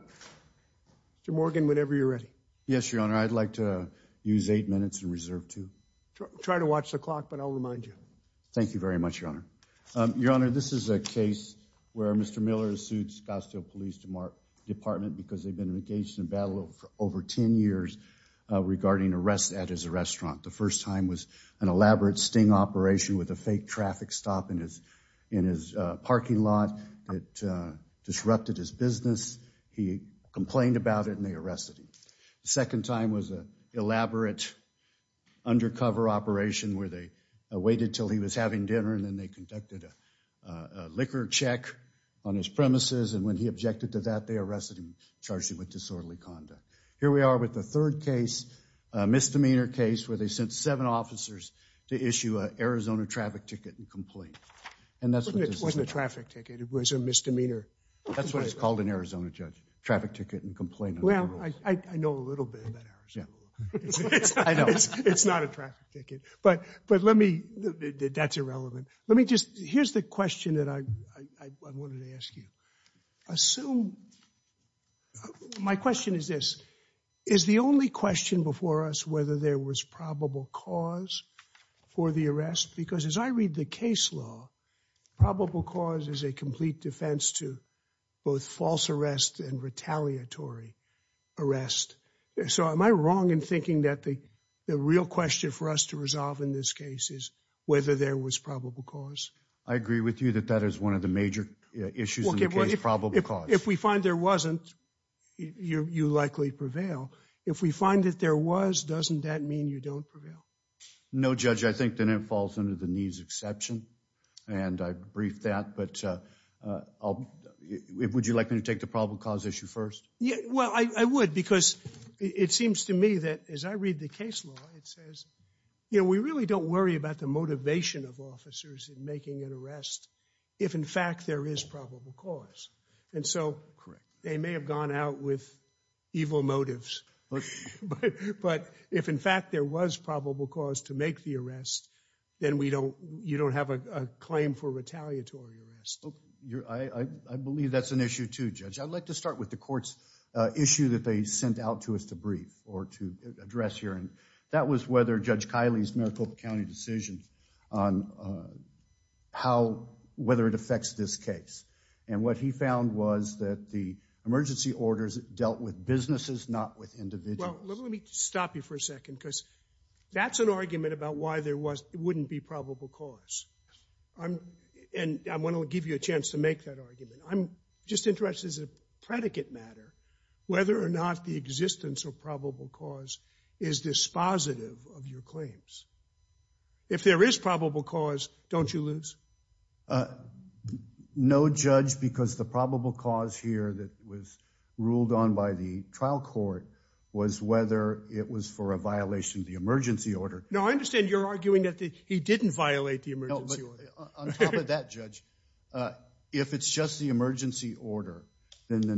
Mr. Morgan, whenever you're ready. Yes, Your Honor, I'd like to use eight minutes in reserve, too. Try to watch the clock, but I'll remind you. Thank you very much, Your Honor. Your Honor, this is a case where Mr. Miller has sued Scottsdale Police Department because they've been engaged in a battle over ten years regarding arrests at his restaurant. The first time was an elaborate sting operation with a fake traffic stop in his parking lot that disrupted his business. He complained about it and they arrested him. The second time was an elaborate undercover operation where they waited until he was having dinner and then they conducted a liquor check on his premises and when he objected to that, they arrested him and charged him with disorderly conduct. Here we are with the third case, a misdemeanor case, where they sent seven officers to issue an Arizona traffic ticket and complain. It wasn't a traffic ticket, it was a misdemeanor. That's what it's called in Arizona, Judge, traffic ticket and complain. Well, I know a little bit about Arizona. It's not a traffic ticket, but let me, that's irrelevant. Let me just, here's the question that I wanted to ask you. Assume, my question is this, is the only question before us whether there was probable cause for the arrest? Because as I read the case law, probable cause is a complete defense to both false arrest and retaliatory arrest. So am I wrong in thinking that the real question for us to resolve in this case is whether there was probable cause? I agree with you that that is one of the major issues in the case, probable cause. If we likely prevail, if we find that there was, doesn't that mean you don't prevail? No, Judge, I think that it falls under the needs exception and I briefed that, but would you like me to take the probable cause issue first? Yeah, well, I would because it seems to me that as I read the case law, it says, you know, we really don't worry about the motivation of officers in making an arrest if in fact there is probable cause. And so they may have gone out with evil motives. But if in fact there was probable cause to make the arrest, then we don't, you don't have a claim for retaliatory arrest. I believe that's an issue too, Judge. I'd like to start with the court's issue that they sent out to us to brief or to address here. And that was whether Judge Kiley's Maricopa County decision on how, whether it affects this case. And what he found was that the emergency orders dealt with businesses, not with individuals. Well, let me stop you for a second because that's an argument about why there was, it wouldn't be probable cause. I'm, and I want to give you a chance to make that argument. I'm just interested as a predicate matter, whether or not the existence of probable cause is dispositive of your claims. If there is probable cause, don't you lose? No judge, because the probable cause here that was ruled on by the trial court was whether it was for a violation of the emergency order. No, I understand you're arguing that he didn't violate the emergency order. On top of that, Judge, if it's just the emergency order, then the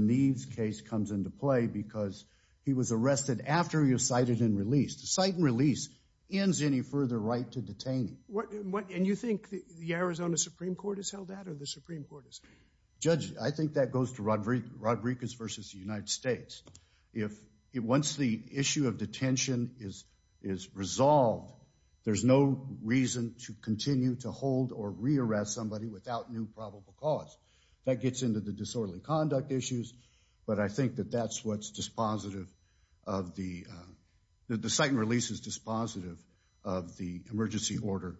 after you're cited and released. The site and release ends any further right to detain. What, what, and you think the Arizona Supreme Court has held that or the Supreme Court is? Judge, I think that goes to Rodriguez versus the United States. If it, once the issue of detention is, is resolved, there's no reason to continue to hold or rearrest somebody without new probable cause that gets into the disorderly conduct issues. But I think that that's what's dispositive of the, the site and release is dispositive of the emergency order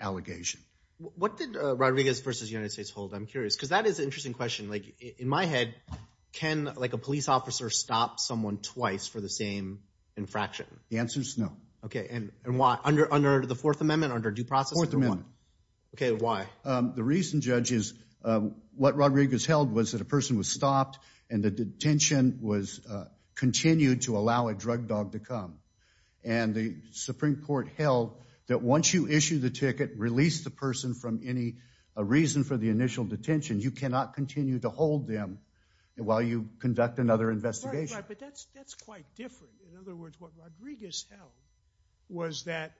allegation. What did Rodriguez versus United States hold? I'm curious, because that is an interesting question. Like in my head, can like a police officer stop someone twice for the same infraction? The answer's no. Okay. And, and why? Under, under the Fourth Amendment, under due process? Fourth Amendment. Okay. Why? The reason, Judge, is what Rodriguez held was that a person was stopped and the detention was continued to allow a drug dog to come. And the Supreme Court held that once you issue the ticket, release the person from any reason for the initial detention, you cannot continue to hold them while you conduct another investigation. Right, right. But that's, that's quite different. In other words, what Rodriguez held was that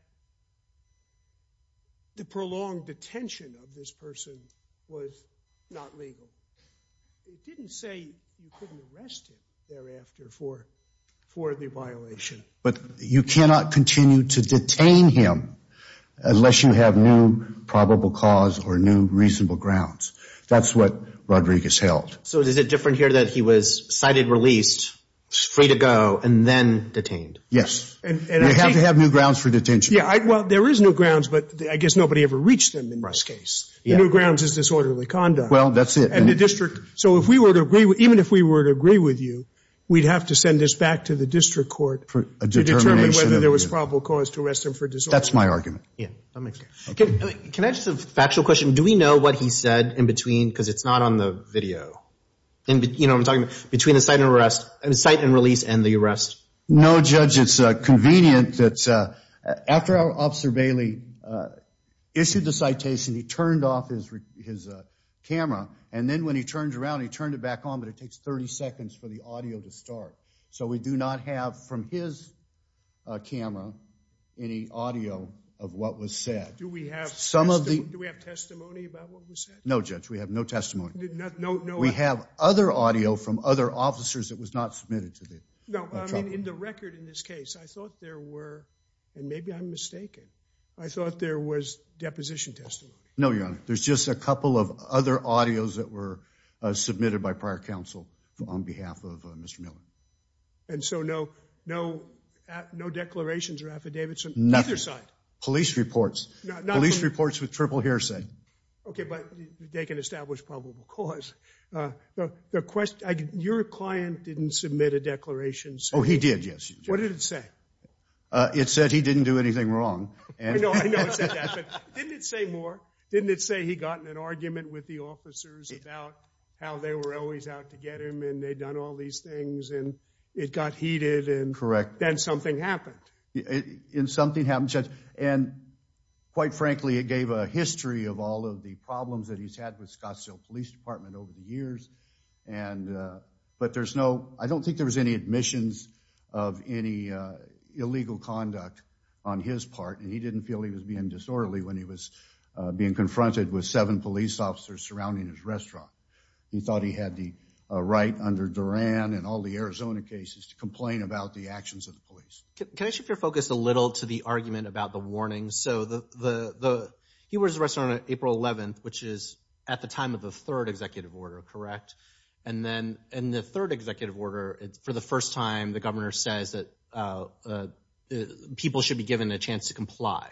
the prolonged detention of this person was not legal. It didn't say you couldn't arrest him thereafter for, for the violation. But you cannot continue to detain him unless you have new probable cause or new reasonable grounds. That's what Rodriguez held. So is it different here that he was cited, released, free to go, and then detained? Yes. And, and I think- You have to have new grounds for detention. Yeah, I, well, there is new grounds, but I guess nobody ever reached them in this case. The new grounds is disorderly conduct. Well, that's it. And the district, so if we were to agree, even if we were to agree with you, we'd have to send this back to the district court to determine whether there was probable cause to arrest him for disorderly conduct. That's my argument. Yeah. Okay. Can I just have a factual question? Do we know what he said in between, because it's not on the video, in between, you know what I'm talking about, between the cite and release and the arrest? No, Judge, it's convenient that after our officer Bailey issued the citation, he turned off his camera. And then when he turned around, he turned it back on, but it takes 30 seconds for the audio to start. So we do not have from his camera any audio of what was said. Do we have some of the- Do we have testimony about what was said? No, Judge, we have no testimony. No, I- We have other audio from other officers that was not submitted to the- No, I mean, in the record in this case, I thought there were, and maybe I'm mistaken, I thought there was deposition testimony. No, Your Honor, there's just a couple of other audios that were submitted by prior counsel on behalf of Mr. Miller. And so no, no, no declarations or affidavits from either side? Nothing. Police reports. Not from- Police reports with triple hearsay. Okay, but they can establish probable cause. The question, your client didn't submit a declaration. Oh, he did, yes. What did it say? It said he didn't do anything wrong. I know, I know it said that, but didn't it say more? Didn't it say he got in an argument with the officers about how they were always out to get him and they'd done all these things and it got heated and- Correct. Then something happened. And something happened, and quite frankly, it gave a history of all of the problems that he's had with Scottsdale Police Department over the years. And, but there's no, I don't think there was any admissions of any illegal conduct on his part. And he didn't feel he was being disorderly when he was being confronted with seven police officers surrounding his restaurant. He thought he had the right under Duran and all the Arizona cases to complain about the actions of the police. Can I shift your focus a little to the argument about the warning? So the, he was arrested on April 11th, which is at the time of the third executive order, correct? And then in the third executive order, for the first time, the governor says that people should be given a chance to comply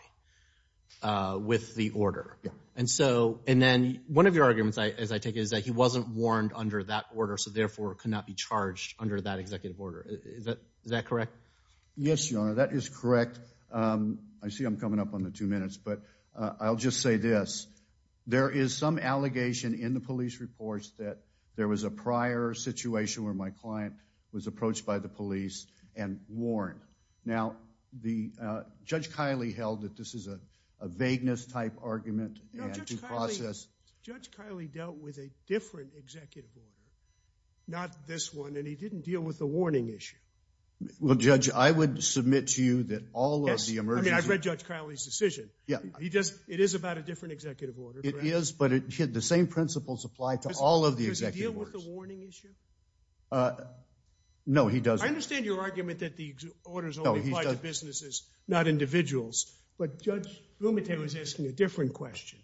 with the order. Yeah. And so, and then one of your arguments, as I take it, is that he wasn't warned under that order, so therefore could not be charged under that executive order. Is that correct? Yes, your honor, that is correct. I see I'm coming up on the two minutes, but I'll just say this. There is some allegation in the police reports that there was a prior situation where my client was approached by the police and warned. Now, the, Judge Kiley held that this is a vagueness type argument and due process. Judge Kiley dealt with a different executive order, not this one, and he didn't deal with the warning issue. Well, Judge, I would submit to you that all of the emergency... Yes, I mean, I read Judge Kiley's decision. Yeah. He just, it is about a different executive order, correct? It is, but it, the same principles apply to all of the executive orders. Does he deal with the warning issue? No, he doesn't. I understand your argument that the orders only apply to businesses, not individuals, but Judge Blumenthal is asking a different question.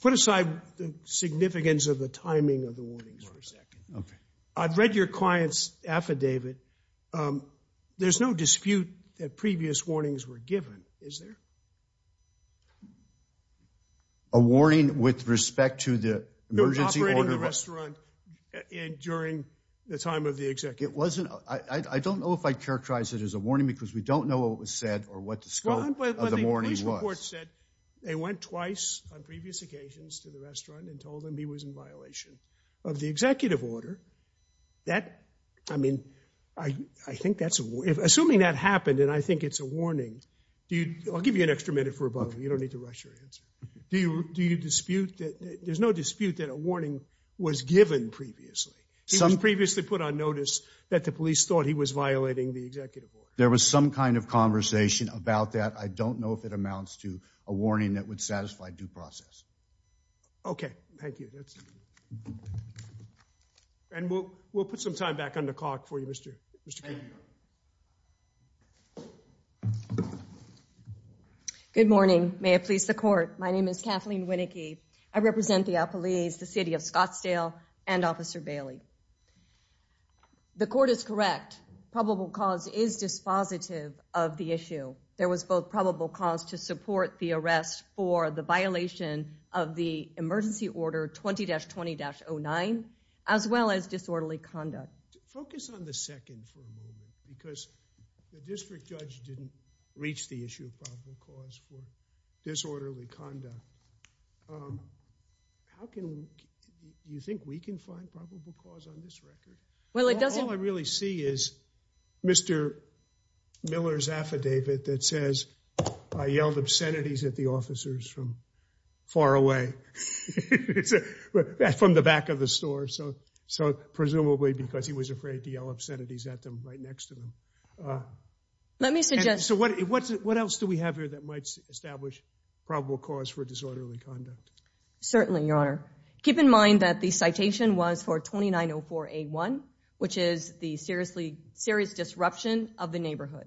Put aside the significance of the timing of the warnings for a second. Okay. I've read your client's affidavit. There's no dispute that previous warnings were given, is there? A warning with respect to the emergency order... They were operating the restaurant during the time of the executive order. It wasn't, I don't know if I'd characterize it as a warning because we don't know what was said or what the scope of the warning was. But the police report said they went twice on previous occasions to the restaurant and told them he was in violation of the executive order. That, I mean, I think that's, assuming that happened and I think it's a warning, do you, I'll give you an extra minute for a moment. You don't need to rush your answer. Do you dispute that, there's no dispute that a warning was given previously. He was previously put on notice that the police thought he was violating the executive order. There was some kind of conversation about that. I don't know if it amounts to a warning that would satisfy due process. Okay. Thank you. And we'll put some time back on the clock for you, Mr. Good morning. May it please the court. My name is Kathleen Winnicky. I represent the police, the city of Scottsdale and officer Bailey. The court is correct. Probable cause is dispositive of the issue. There was both probable cause to support the arrest for the violation of the emergency order 20-20-09, as well as disorderly conduct. Focus on the second for a moment, because the district judge didn't reach the issue of probable cause for disorderly conduct. How can we, do you think we can find probable cause on this record? Well, it doesn't- All I really see is Mr. Miller's affidavit that says, I yelled obscenities at the officers from far away. It's from the back of the store. So, so presumably because he was afraid to yell obscenities at them right next to them. Let me suggest- So what, what else do we have here that might establish probable cause for disorderly conduct? Certainly, your honor. Keep in mind that the citation was for 2904A1, which is the seriously, serious disruption of the neighborhood.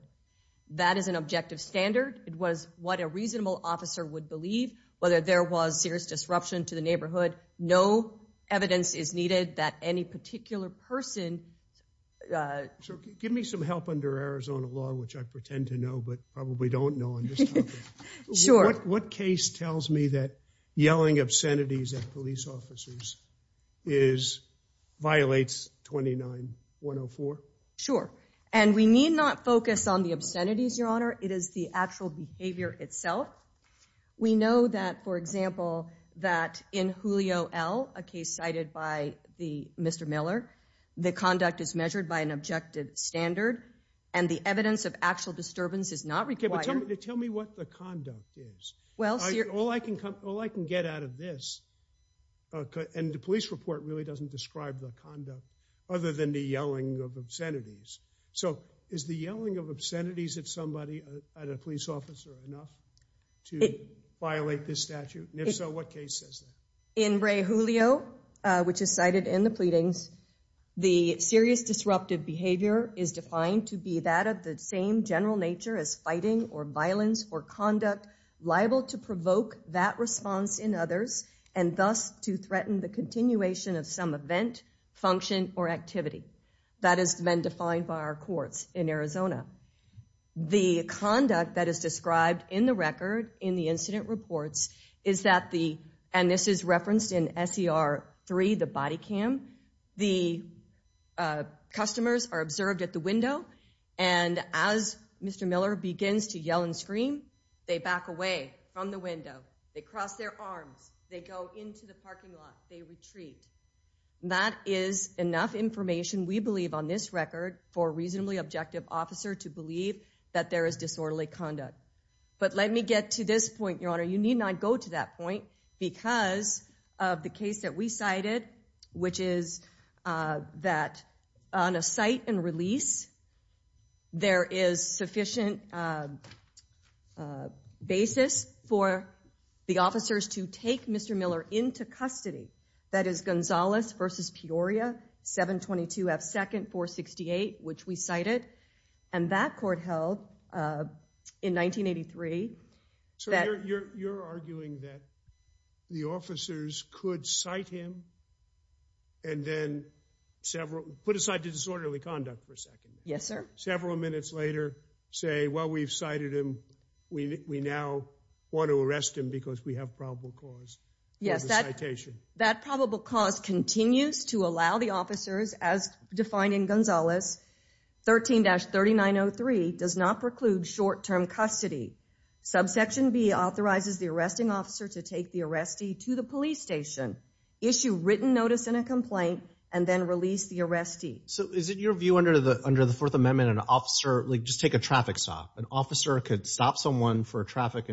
That is an objective standard. It was what a reasonable officer would believe, whether there was serious disruption to the neighborhood. No evidence is needed that any particular person- So give me some help under Arizona law, which I pretend to know, but probably don't know on this topic. Sure. What case tells me that yelling obscenities at police officers is, violates 29104? Sure. And we need not focus on the obscenities, your honor. It is the actual behavior itself. We know that, for example, that in Julio L., a case cited by the Mr. Miller, the conduct is measured by an objective standard. And the evidence of actual disturbance is not required- All I can get out of this, and the police report really doesn't describe the conduct, other than the yelling of obscenities. So is the yelling of obscenities at a police officer enough to violate this statute? And if so, what case says that? In Ray Julio, which is cited in the pleadings, the serious disruptive behavior is defined to be that of the same general nature as fighting or violence for conduct liable to provoke that response in others, and thus to threaten the continuation of some event, function, or activity. That has been defined by our courts in Arizona. The conduct that is described in the record, in the incident reports, is that the, and this is referenced in SER 3, the body cam, the customers are observed at the window. And as Mr. Miller begins to yell and scream, they back away from the window. They cross their arms. They go into the parking lot. They retreat. That is enough information, we believe, on this record for a reasonably objective officer to believe that there is disorderly conduct. But let me get to this point, Your Honor. You need not go to that point because of the case that we cited, which is that on a site and release, there is sufficient basis for the officers to take Mr. Miller into custody. That is Gonzales v. Peoria, 722 F. 2nd 468, which we cited. And that court held in 1983. So you're arguing that the officers could cite him and then several, put aside the disorderly conduct for a second. Yes, sir. Several minutes later, say, well, we've cited him. We now want to arrest him because we have probable cause for the citation. Yes, that probable cause continues to allow the officers, as defined in Gonzales, 13-3903, does not preclude short-term custody. Subsection B authorizes the arresting officer to take the arrestee to the police station, issue written notice and a complaint, and then release the arrestee. So is it your view under the Fourth Amendment, an officer, like, just take a traffic stop. An officer could stop someone for a traffic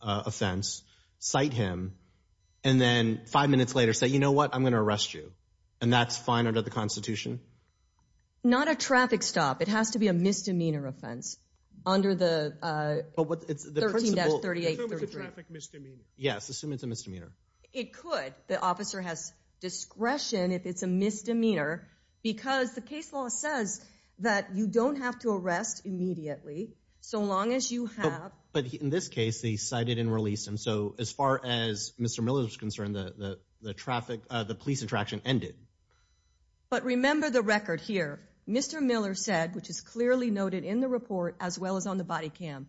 offense, cite him, and then five minutes later say, you know what, I'm going to arrest you. And that's fine under the Constitution? Not a traffic stop. It has to be a misdemeanor offense under the 13-3833. Assume it's a traffic misdemeanor. Yes, assume it's a misdemeanor. It could. The officer has discretion if it's a misdemeanor because the case law says that you don't have to arrest immediately, so long as you have. But in this case, they cited and released him. So as far as Mr. Miller is concerned, the police attraction ended. But remember the record here. Mr. Miller said, which is clearly noted in the report, as well as on the body cam,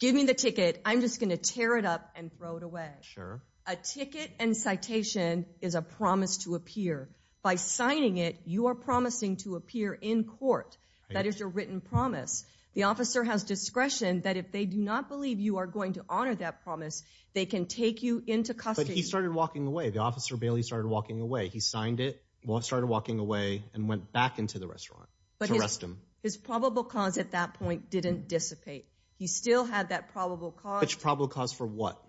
give me the ticket. I'm just going to tear it up and throw it away. Sure. A ticket and citation is a promise to appear. By signing it, you are promising to appear in court. That is your written promise. The officer has discretion that if they do not believe you are going to honor that promise, they can take you into custody. But he started walking away. The officer barely started walking away. He signed it, started walking away, and went back into the restaurant to arrest him. His probable cause at that point didn't dissipate. He still had that probable cause. Which probable cause for what?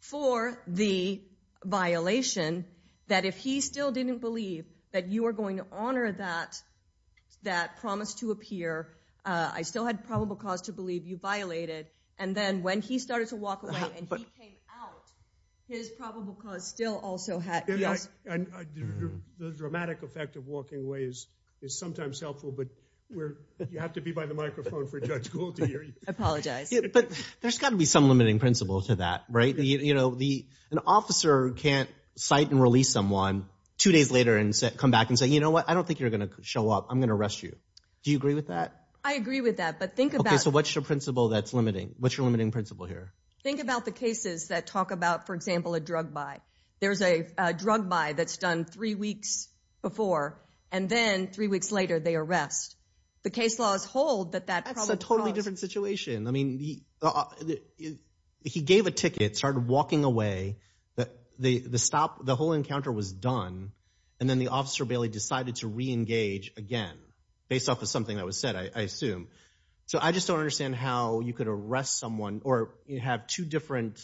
For the violation that if he still didn't believe that you are going to honor that promise to appear, I still had probable cause to believe you violated. And then when he started to walk away and he came out, his probable cause still also had. The dramatic effect of walking away is sometimes helpful, but you have to be by the microphone for Judge Gould to hear you. I apologize. But there's got to be some limiting principle to that, right? An officer can't cite and release someone two days later and come back and say, you know what, I don't think you're going to show up. I'm going to arrest you. Do you agree with that? I agree with that. But think about it. So what's your principle that's limiting? What's your limiting principle here? Think about the cases that talk about, for example, a drug buy. There's a drug buy that's done three weeks before, and then three weeks later, they arrest. The case laws hold that that's a totally different situation. I mean, he gave a ticket, started walking away, the stop, the whole encounter was done. And then the officer, Bailey, decided to re-engage again, based off of something that was said, I assume. So I just don't understand how you could arrest someone or have two different,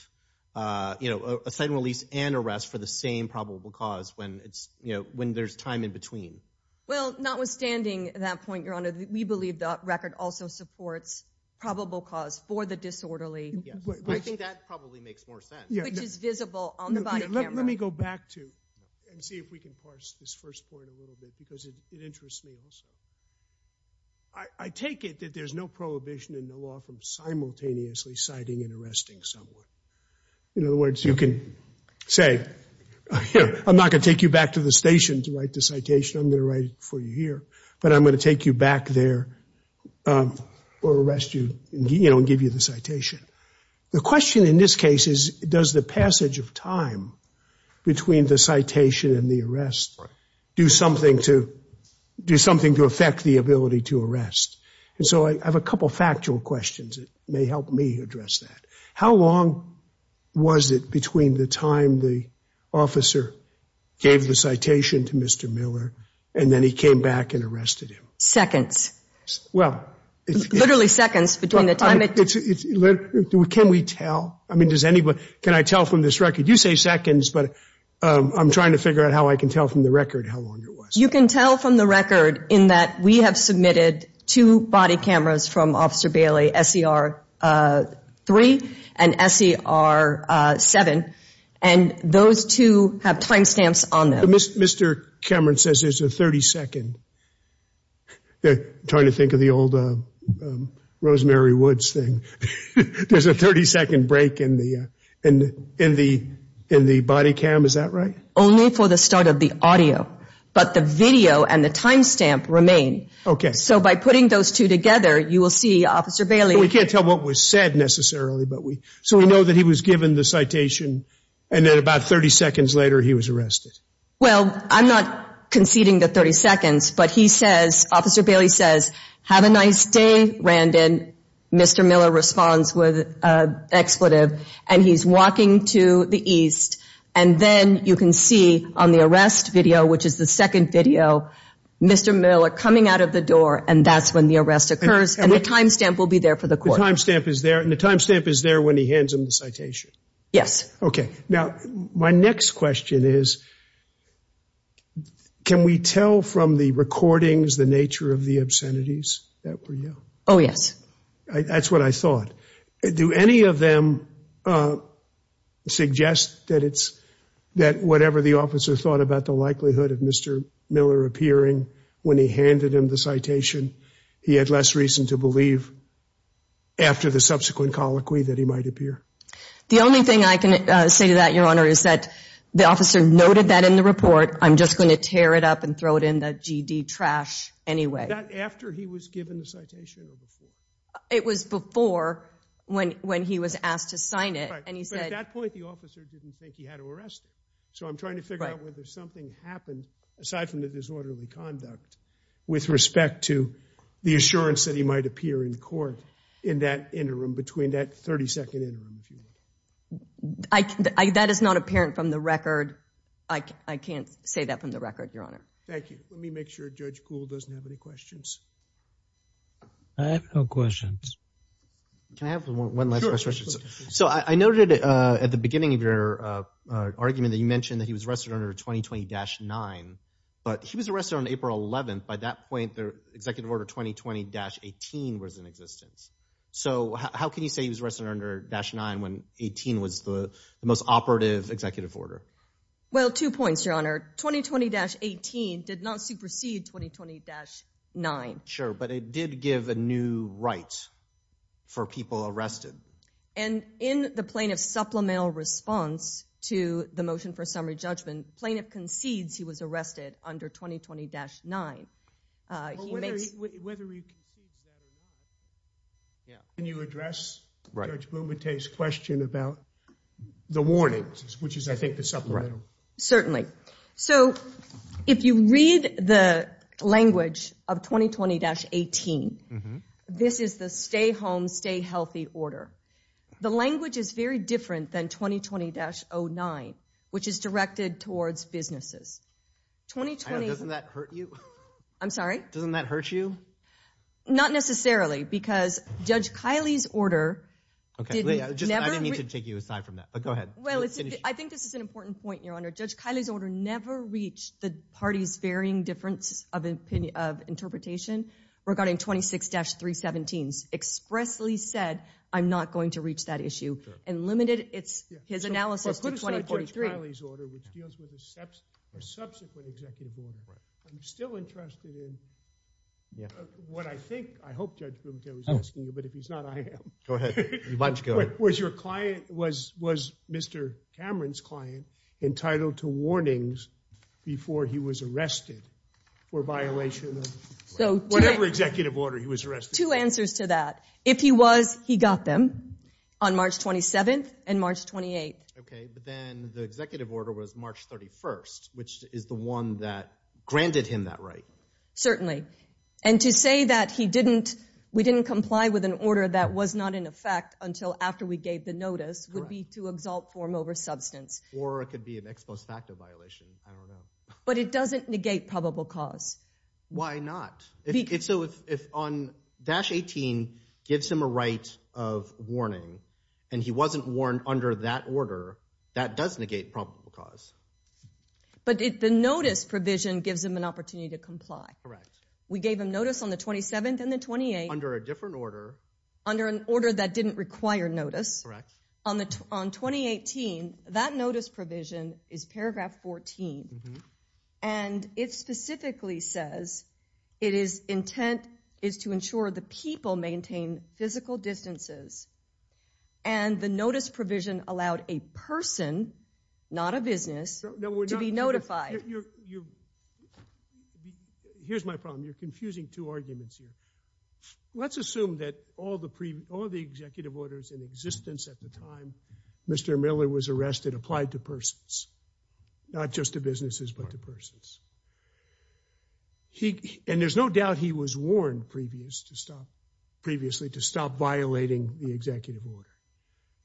you know, a cite and release and arrest for the same probable cause when it's, you know, when there's time in between. Well, notwithstanding that point, Your Honor, we believe the record also supports probable cause for the disorderly. Yes. I think that probably makes more sense. Which is visible on the body camera. Let me go back to, and see if we can parse this first point a little bit, because it interests me also. I take it that there's no prohibition in the law from simultaneously citing and arresting someone. In other words, you can say, I'm not going to take you back to the station to write the citation. I'm going to write it for you here. But I'm going to take you back there or arrest you, you know, and give you the citation. The question in this case is, does the passage of time between the citation and the arrest do something to, do something to affect the ability to arrest? And so I have a couple of factual questions that may help me address that. How long was it between the time the officer gave the citation to Mr. Miller and then he came back and arrested him? Seconds. Well. Literally seconds between the time. Can we tell? I mean, does anybody, can I tell from this record? You say seconds, but I'm trying to figure out how I can tell from the record how long it was. You can tell from the record in that we have submitted two body cameras from Officer Bailey, SER3 and SER7, and those two have timestamps on them. Mr. Cameron says there's a 30 second. They're trying to think of the old Rosemary Woods thing. There's a 30 second break in the body cam. Is that right? Only for the start of the audio, but the video and the timestamp remain. Okay. So by putting those two together, you will see Officer Bailey. We can't tell what was said necessarily, but we, so we know that he was given the citation and then about 30 seconds later he was arrested. Well, I'm not conceding the 30 seconds, but he says, Officer Bailey says, have a nice day, Randon. Mr. Miller responds with expletive and he's walking to the east. And then you can see on the arrest video, which is the second video, Mr. Miller coming out of the door and that's when the arrest occurs. And the timestamp will be there for the court. The timestamp is there and the timestamp is there when he hands him the citation. Yes. Okay. Now, my next question is, can we tell from the recordings, the nature of the obscenities that were you? Oh, yes. That's what I thought. Do any of them suggest that it's, that whatever the officer thought about the likelihood of Mr. Miller appearing when he handed him the citation, he had less reason to believe after the subsequent colloquy that he might appear? The only thing I can say to that, Your Honor, is that the officer noted that in the report. I'm just going to tear it up and throw it in the GD trash anyway. That after he was given the citation or before? It was before when he was asked to sign it. Right, but at that point, the officer didn't think he had to arrest him. So I'm trying to figure out whether something happened, aside from the disorderly conduct, with respect to the assurance that he might appear in court in that interim, between that 32nd interim, if you will. That is not apparent from the record. I can't say that from the record, Your Honor. Thank you. Let me make sure Judge Kuhl doesn't have any questions. I have no questions. Can I have one last question? So I noted at the beginning of your argument that you mentioned that he was arrested under 2020-9, but he was arrested on April 11th. By that point, the executive order 2020-18 was in existence. So how can you say he was arrested under 2020-9 when 2018 was the most operative executive order? Well, two points, Your Honor. 2020-18 did not supersede 2020-9. Sure, but it did give a new right for people arrested. And in the plaintiff's supplemental response to the motion for summary judgment, plaintiff concedes he was arrested under 2020-9. Whether he concedes that or not, can you address Judge Blumenthal's question about the warnings, which is, I think, the supplemental? Certainly. So if you read the language of 2020-18, this is the stay home, stay healthy order. The language is very different than 2020-09, which is directed towards businesses. 2020— Doesn't that hurt you? I'm sorry? Doesn't that hurt you? Not necessarily, because Judge Kiley's order— Okay, I didn't mean to take you aside from that, but go ahead. I think this is an important point, Your Honor. Judge Kiley's order never reached the party's varying difference of interpretation regarding 26-317s, expressly said, I'm not going to reach that issue, and limited his analysis to 2043. Judge Kiley's order, which deals with a subsequent executive order, I'm still interested in what I think, I hope Judge Blumenthal is asking you, but if he's not, I am. Go ahead. You might as well go. Was your client, was Mr. Cameron's client entitled to warnings before he was arrested for violation of whatever executive order he was arrested? Two answers to that. If he was, he got them on March 27th and March 28th. Okay, but then the executive order was March 31st, which is the one that granted him that right. Certainly, and to say that he didn't, we didn't comply with an order that was not in effect until after we gave the notice would be to exalt form over substance. Or it could be an ex post facto violation, I don't know. But it doesn't negate probable cause. Why not? So if on dash 18 gives him a right of warning and he wasn't warned under that order, that does negate probable cause. But the notice provision gives him an opportunity to comply. Correct. We gave him notice on the 27th and the 28th. Under a different order. Under an order that didn't require notice. Correct. On 2018, that notice provision is paragraph 14. And it specifically says, It is intent is to ensure the people maintain physical distances. And the notice provision allowed a person, not a business, to be notified. Here's my problem. You're confusing two arguments here. Let's assume that all the executive orders in existence at the time Mr. Miller was arrested applied to persons. Not just to businesses, but to persons. And there's no doubt he was warned previously to stop violating the executive order.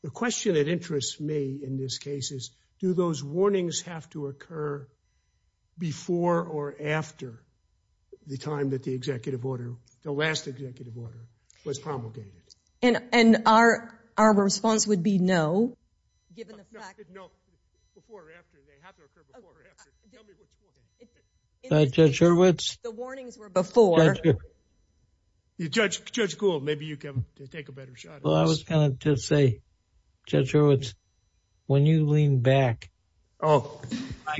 The question that interests me in this case is, do those warnings have to occur before or after the time that the executive order, the last executive order was promulgated? And our response would be no, given the fact. No, before or after. They have to occur before or after. Tell me which one. Judge Hurwitz. The warnings were before. Judge Gould, maybe you can take a better shot at this. Well, I was going to say, Judge Hurwitz, when you lean back. I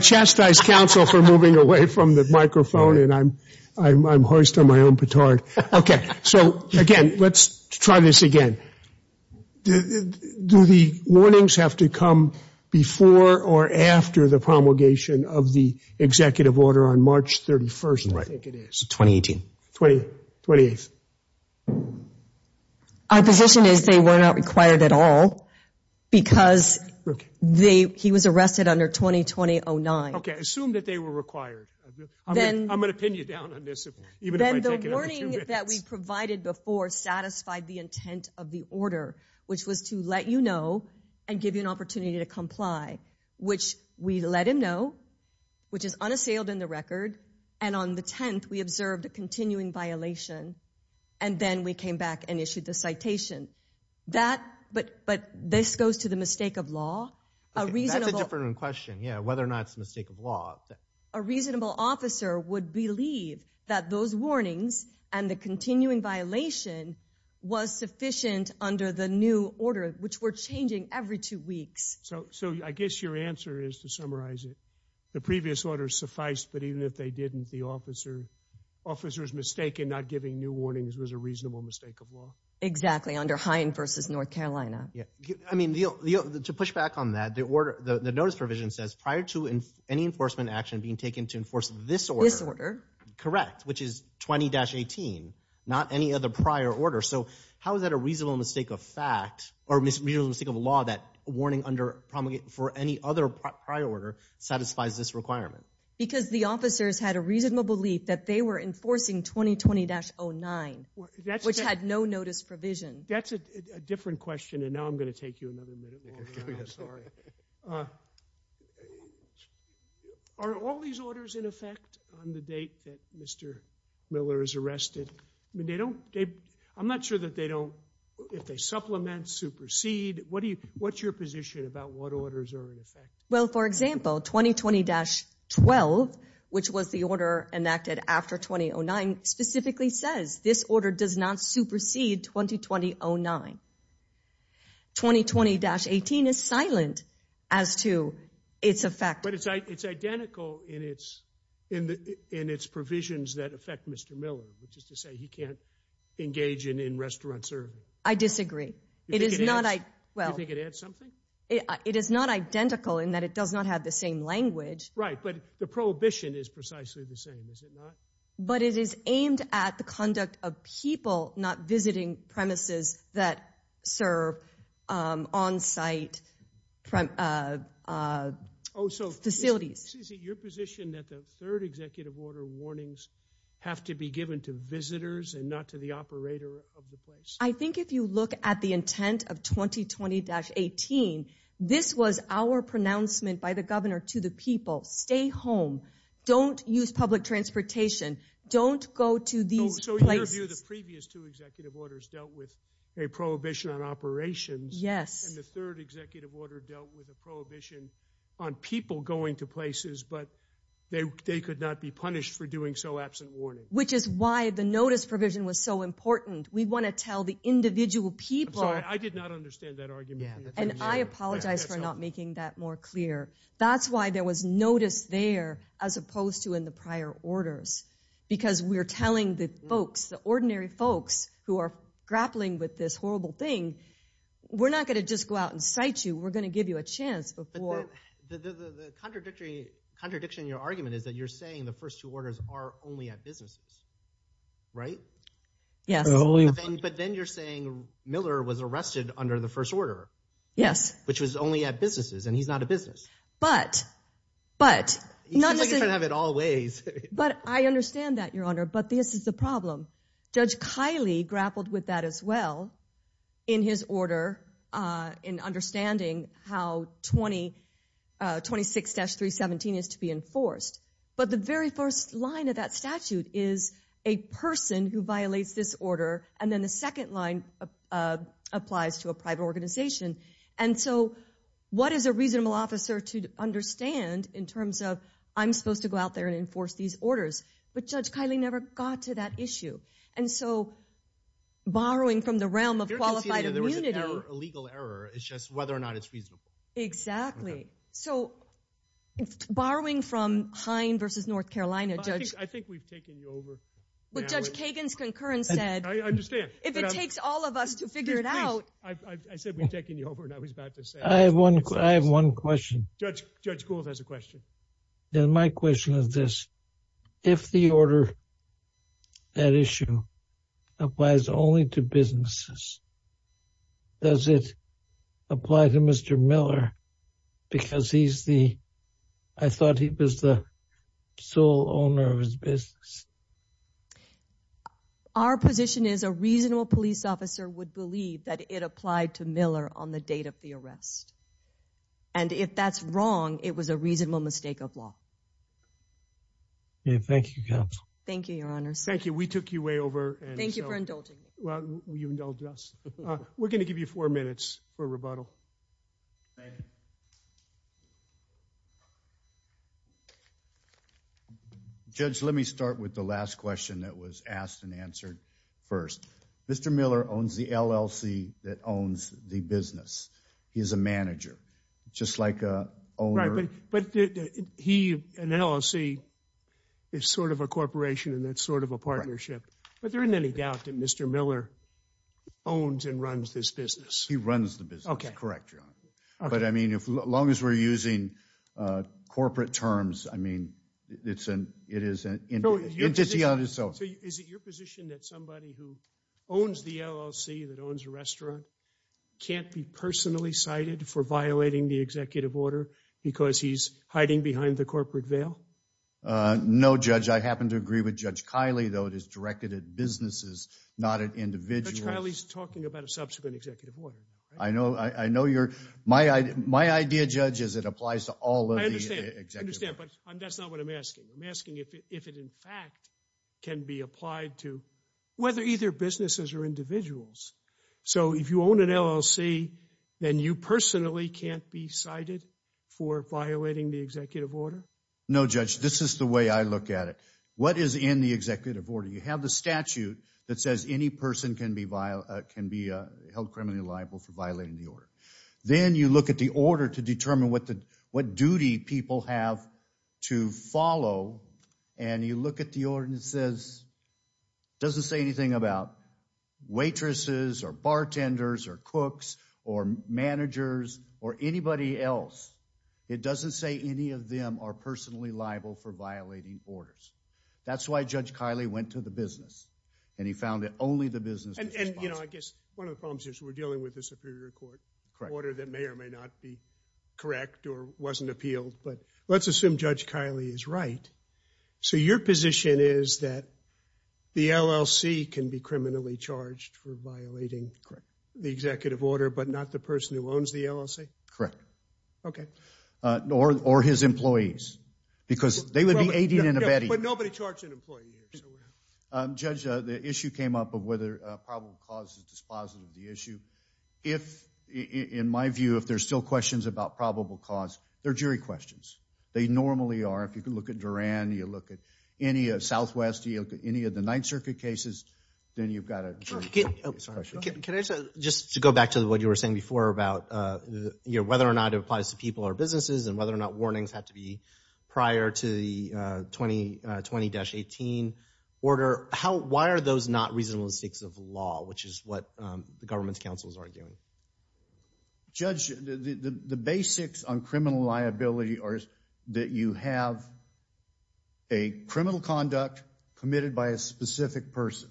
chastise counsel for moving away from the microphone and I'm hoist on my own petard. OK, so again, let's try this again. Do the warnings have to come before or after the promulgation of the executive order on March 31st, I think it is. 2018. 20, 28th. Our position is they were not required at all because he was arrested under 2020-09. OK, assume that they were required. I'm going to pin you down on this. Then the warning that we provided before satisfied the intent of the order, which was to let you know and give you an opportunity to comply, which we let him know, which is unassailed in the record. And on the 10th, we observed a continuing violation. And then we came back and issued the citation. But this goes to the mistake of law. That's a different question, whether or not it's a mistake of law. A reasonable officer would believe that those warnings and the continuing violation was sufficient under the new order, which we're changing every two weeks. So so I guess your answer is to summarize it. The previous order sufficed. But even if they didn't, the officer officer's mistake in not giving new warnings was a reasonable mistake of law. Exactly. Under Hein versus North Carolina. Yeah, I mean, to push back on that, the order, the notice provision says prior to any enforcement action being taken to enforce this order, correct, which is 20-18, not any other prior order. So how is that a reasonable mistake of fact or mistake of law that warning under promulgate for any other prior order satisfies this requirement? Because the officers had a reasonable belief that they were enforcing 2020-09, which had no notice provision. That's a different question. And now I'm going to take you another minute. Sorry. Are all these orders in effect on the date that Mr. Miller is arrested? I mean, they don't, I'm not sure that they don't, if they supplement, supersede. What do you, what's your position about what orders are in effect? Well, for example, 2020-12, which was the order enacted after 20-09, specifically says this order does not supersede 2020-09. 2020-18 is silent as to its effect. But it's identical in its provisions that affect Mr. Miller, which is to say he can't engage in in-restaurant serving. I disagree. It is not, well. You think it adds something? It is not identical in that it does not have the same language. Right, but the prohibition is precisely the same, is it not? But it is aimed at the conduct of people not visiting premises that serve on-site facilities. Is it your position that the third executive order warnings have to be given to visitors and not to the operator of the place? I think if you look at the intent of 2020-18, this was our pronouncement by the governor to the people. Stay home. Don't use public transportation. Don't go to these places. So in your view, the previous two executive orders dealt with a prohibition on operations. Yes. And the third executive order dealt with a prohibition on people going to places, but they could not be punished for doing so absent warning. Which is why the notice provision was so important. We want to tell the individual people. I'm sorry, I did not understand that argument. And I apologize for not making that more clear. That's why there was notice there, as opposed to in the prior orders. Because we're telling the folks, the ordinary folks, who are grappling with this horrible thing, we're not going to just go out and cite you. We're going to give you a chance. But the contradiction in your argument is that you're saying the first two orders are only at businesses, right? Yes. But then you're saying Miller was arrested under the first order. Yes. Which was only at businesses. And he's not a business. But, but... You seem like you're trying to have it all ways. But I understand that, Your Honor. But this is the problem. Judge Kiley grappled with that as well in his order, in understanding how 26-317 is to be enforced. But the very first line of that statute is a person who violates this order. And then the second line applies to a private organization. And so, what is a reasonable officer to understand in terms of I'm supposed to go out there and enforce these orders? But Judge Kiley never got to that issue. And so, borrowing from the realm of qualified immunity... There was a legal error. It's just whether or not it's reasonable. Exactly. So, borrowing from Hine versus North Carolina, Judge... I think we've taken you over. But Judge Kagan's concurrence said... I understand. If it takes all of us to figure it out... I said we've taken you over, and I was about to say... I have one question. Judge Gould has a question. And my question is this. If the order, that issue, applies only to businesses, does it apply to Mr. Miller? Because he's the... I thought he was the sole owner of his business. Our position is a reasonable police officer would believe that it applied to Miller on the date of the arrest. And if that's wrong, it was a reasonable mistake of law. Thank you, Counsel. Thank you, Your Honor. Thank you. We took you way over. Thank you for indulging me. Well, you indulged us. We're going to give you four minutes for rebuttal. Thank you. Judge, let me start with the last question that was asked and answered first. Mr. Miller owns the LLC that owns the business. He is a manager, just like an owner. But he, an LLC, is sort of a corporation, and that's sort of a partnership. But there isn't any doubt that Mr. Miller owns and runs this business. He runs the business, correct, Your Honor. But I mean, as long as we're using corporate terms, I mean, it is an entity on its own. Is it your position that somebody who owns the LLC, that owns a restaurant, can't be personally cited for violating the executive order because he's hiding behind the corporate veil? No, Judge. I happen to agree with Judge Kiley, though it is directed at businesses, not at individuals. Judge Kiley's talking about a subsequent executive order. I know. My idea, Judge, is it applies to all of the executive orders. I understand, but that's not what I'm asking. I'm asking if it, in fact, can be applied to whether either businesses or individuals. So if you own an LLC, then you personally can't be cited for violating the executive order? No, Judge. This is the way I look at it. What is in the executive order? You have the statute that says any person can be held criminally liable for violating the order. Then you look at the order to determine what duty people have to follow, and you look at the order and it says, it doesn't say anything about waitresses, or bartenders, or cooks, or managers, or anybody else. It doesn't say any of them are personally liable for violating orders. That's why Judge Kiley went to the business, and he found that only the business was responsible. And, you know, I guess one of the problems is we're dealing with a superior court order that may or may not be correct or wasn't appealed. But let's assume Judge Kiley is right. So your position is that the LLC can be criminally charged for violating the executive order, but not the person who owns the LLC? Correct. Okay. Or his employees, because they would be aiding and abetting. But nobody charged an employee here. Judge, the issue came up of whether a probable cause is dispositive of the issue. If, in my view, if there's still questions about probable cause, they're jury questions. They normally are. If you can look at Duran, you look at any of Southwest, you look at any of the Ninth Circuit cases, then you've got a jury question. Can I just go back to what you were saying before about whether or not it applies to people or businesses, and whether or not warnings have to be prior to the 2020-18 order. Why are those not reasonableness of law, which is what the government's counsel is arguing? Judge, the basics on criminal liability are that you have a criminal conduct committed by a specific person.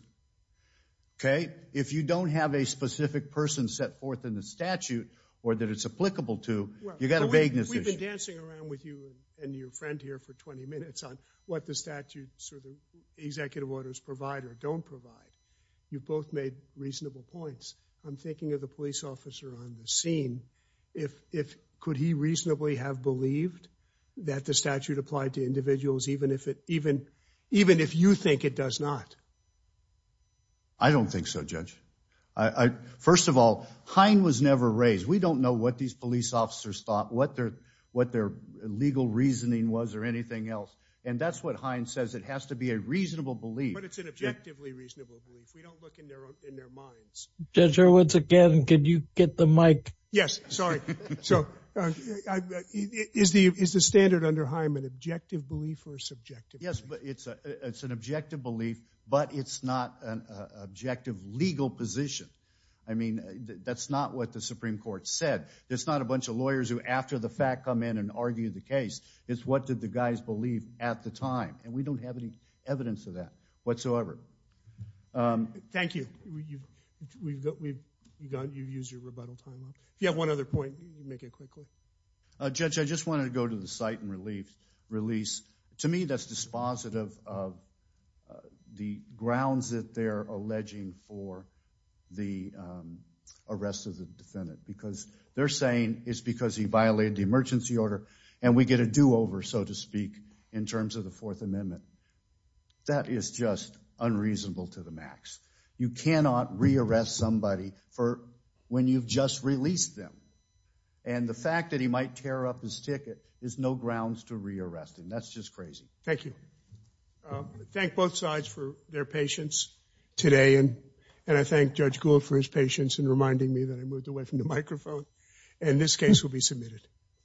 Okay? If you don't have a specific person set forth in the statute or that it's applicable to, you've got a vagueness issue. Well, we've been dancing around with you and your friend here for 20 minutes on what the statutes or the executive orders provide or don't provide. You've both made reasonable points. I'm thinking of the police officer on the scene. Could he reasonably have believed that the statute applied to individuals even if you think it does not? I don't think so, Judge. First of all, Hine was never raised. We don't know what these police officers thought, what their legal reasoning was or anything else. And that's what Hine says. It has to be a reasonable belief. But it's an objectively reasonable belief. We don't look in their minds. Judge, once again, could you get the mic? Yes, sorry. Is the standard under Hine an objective belief or a subjective belief? Yes, it's an objective belief, but it's not an objective legal position. I mean, that's not what the Supreme Court said. It's not a bunch of lawyers who, after the fact, come in and argue the case. It's what did the guys believe at the time. And we don't have any evidence of that. Whatsoever. Thank you. You've used your rebuttal time up. If you have one other point, make it quickly. Judge, I just wanted to go to the site and release. To me, that's dispositive of the grounds that they're alleging for the arrest of the defendant. Because they're saying it's because he violated the emergency order and we get a do-over, so to speak, in terms of the Fourth Amendment. That is just unreasonable to the max. You cannot re-arrest somebody for when you've just released them. And the fact that he might tear up his ticket is no grounds to re-arrest him. That's just crazy. Thank you. Thank both sides for their patience today. And I thank Judge Gould for his patience in reminding me that I moved away from the microphone. And this case will be submitted.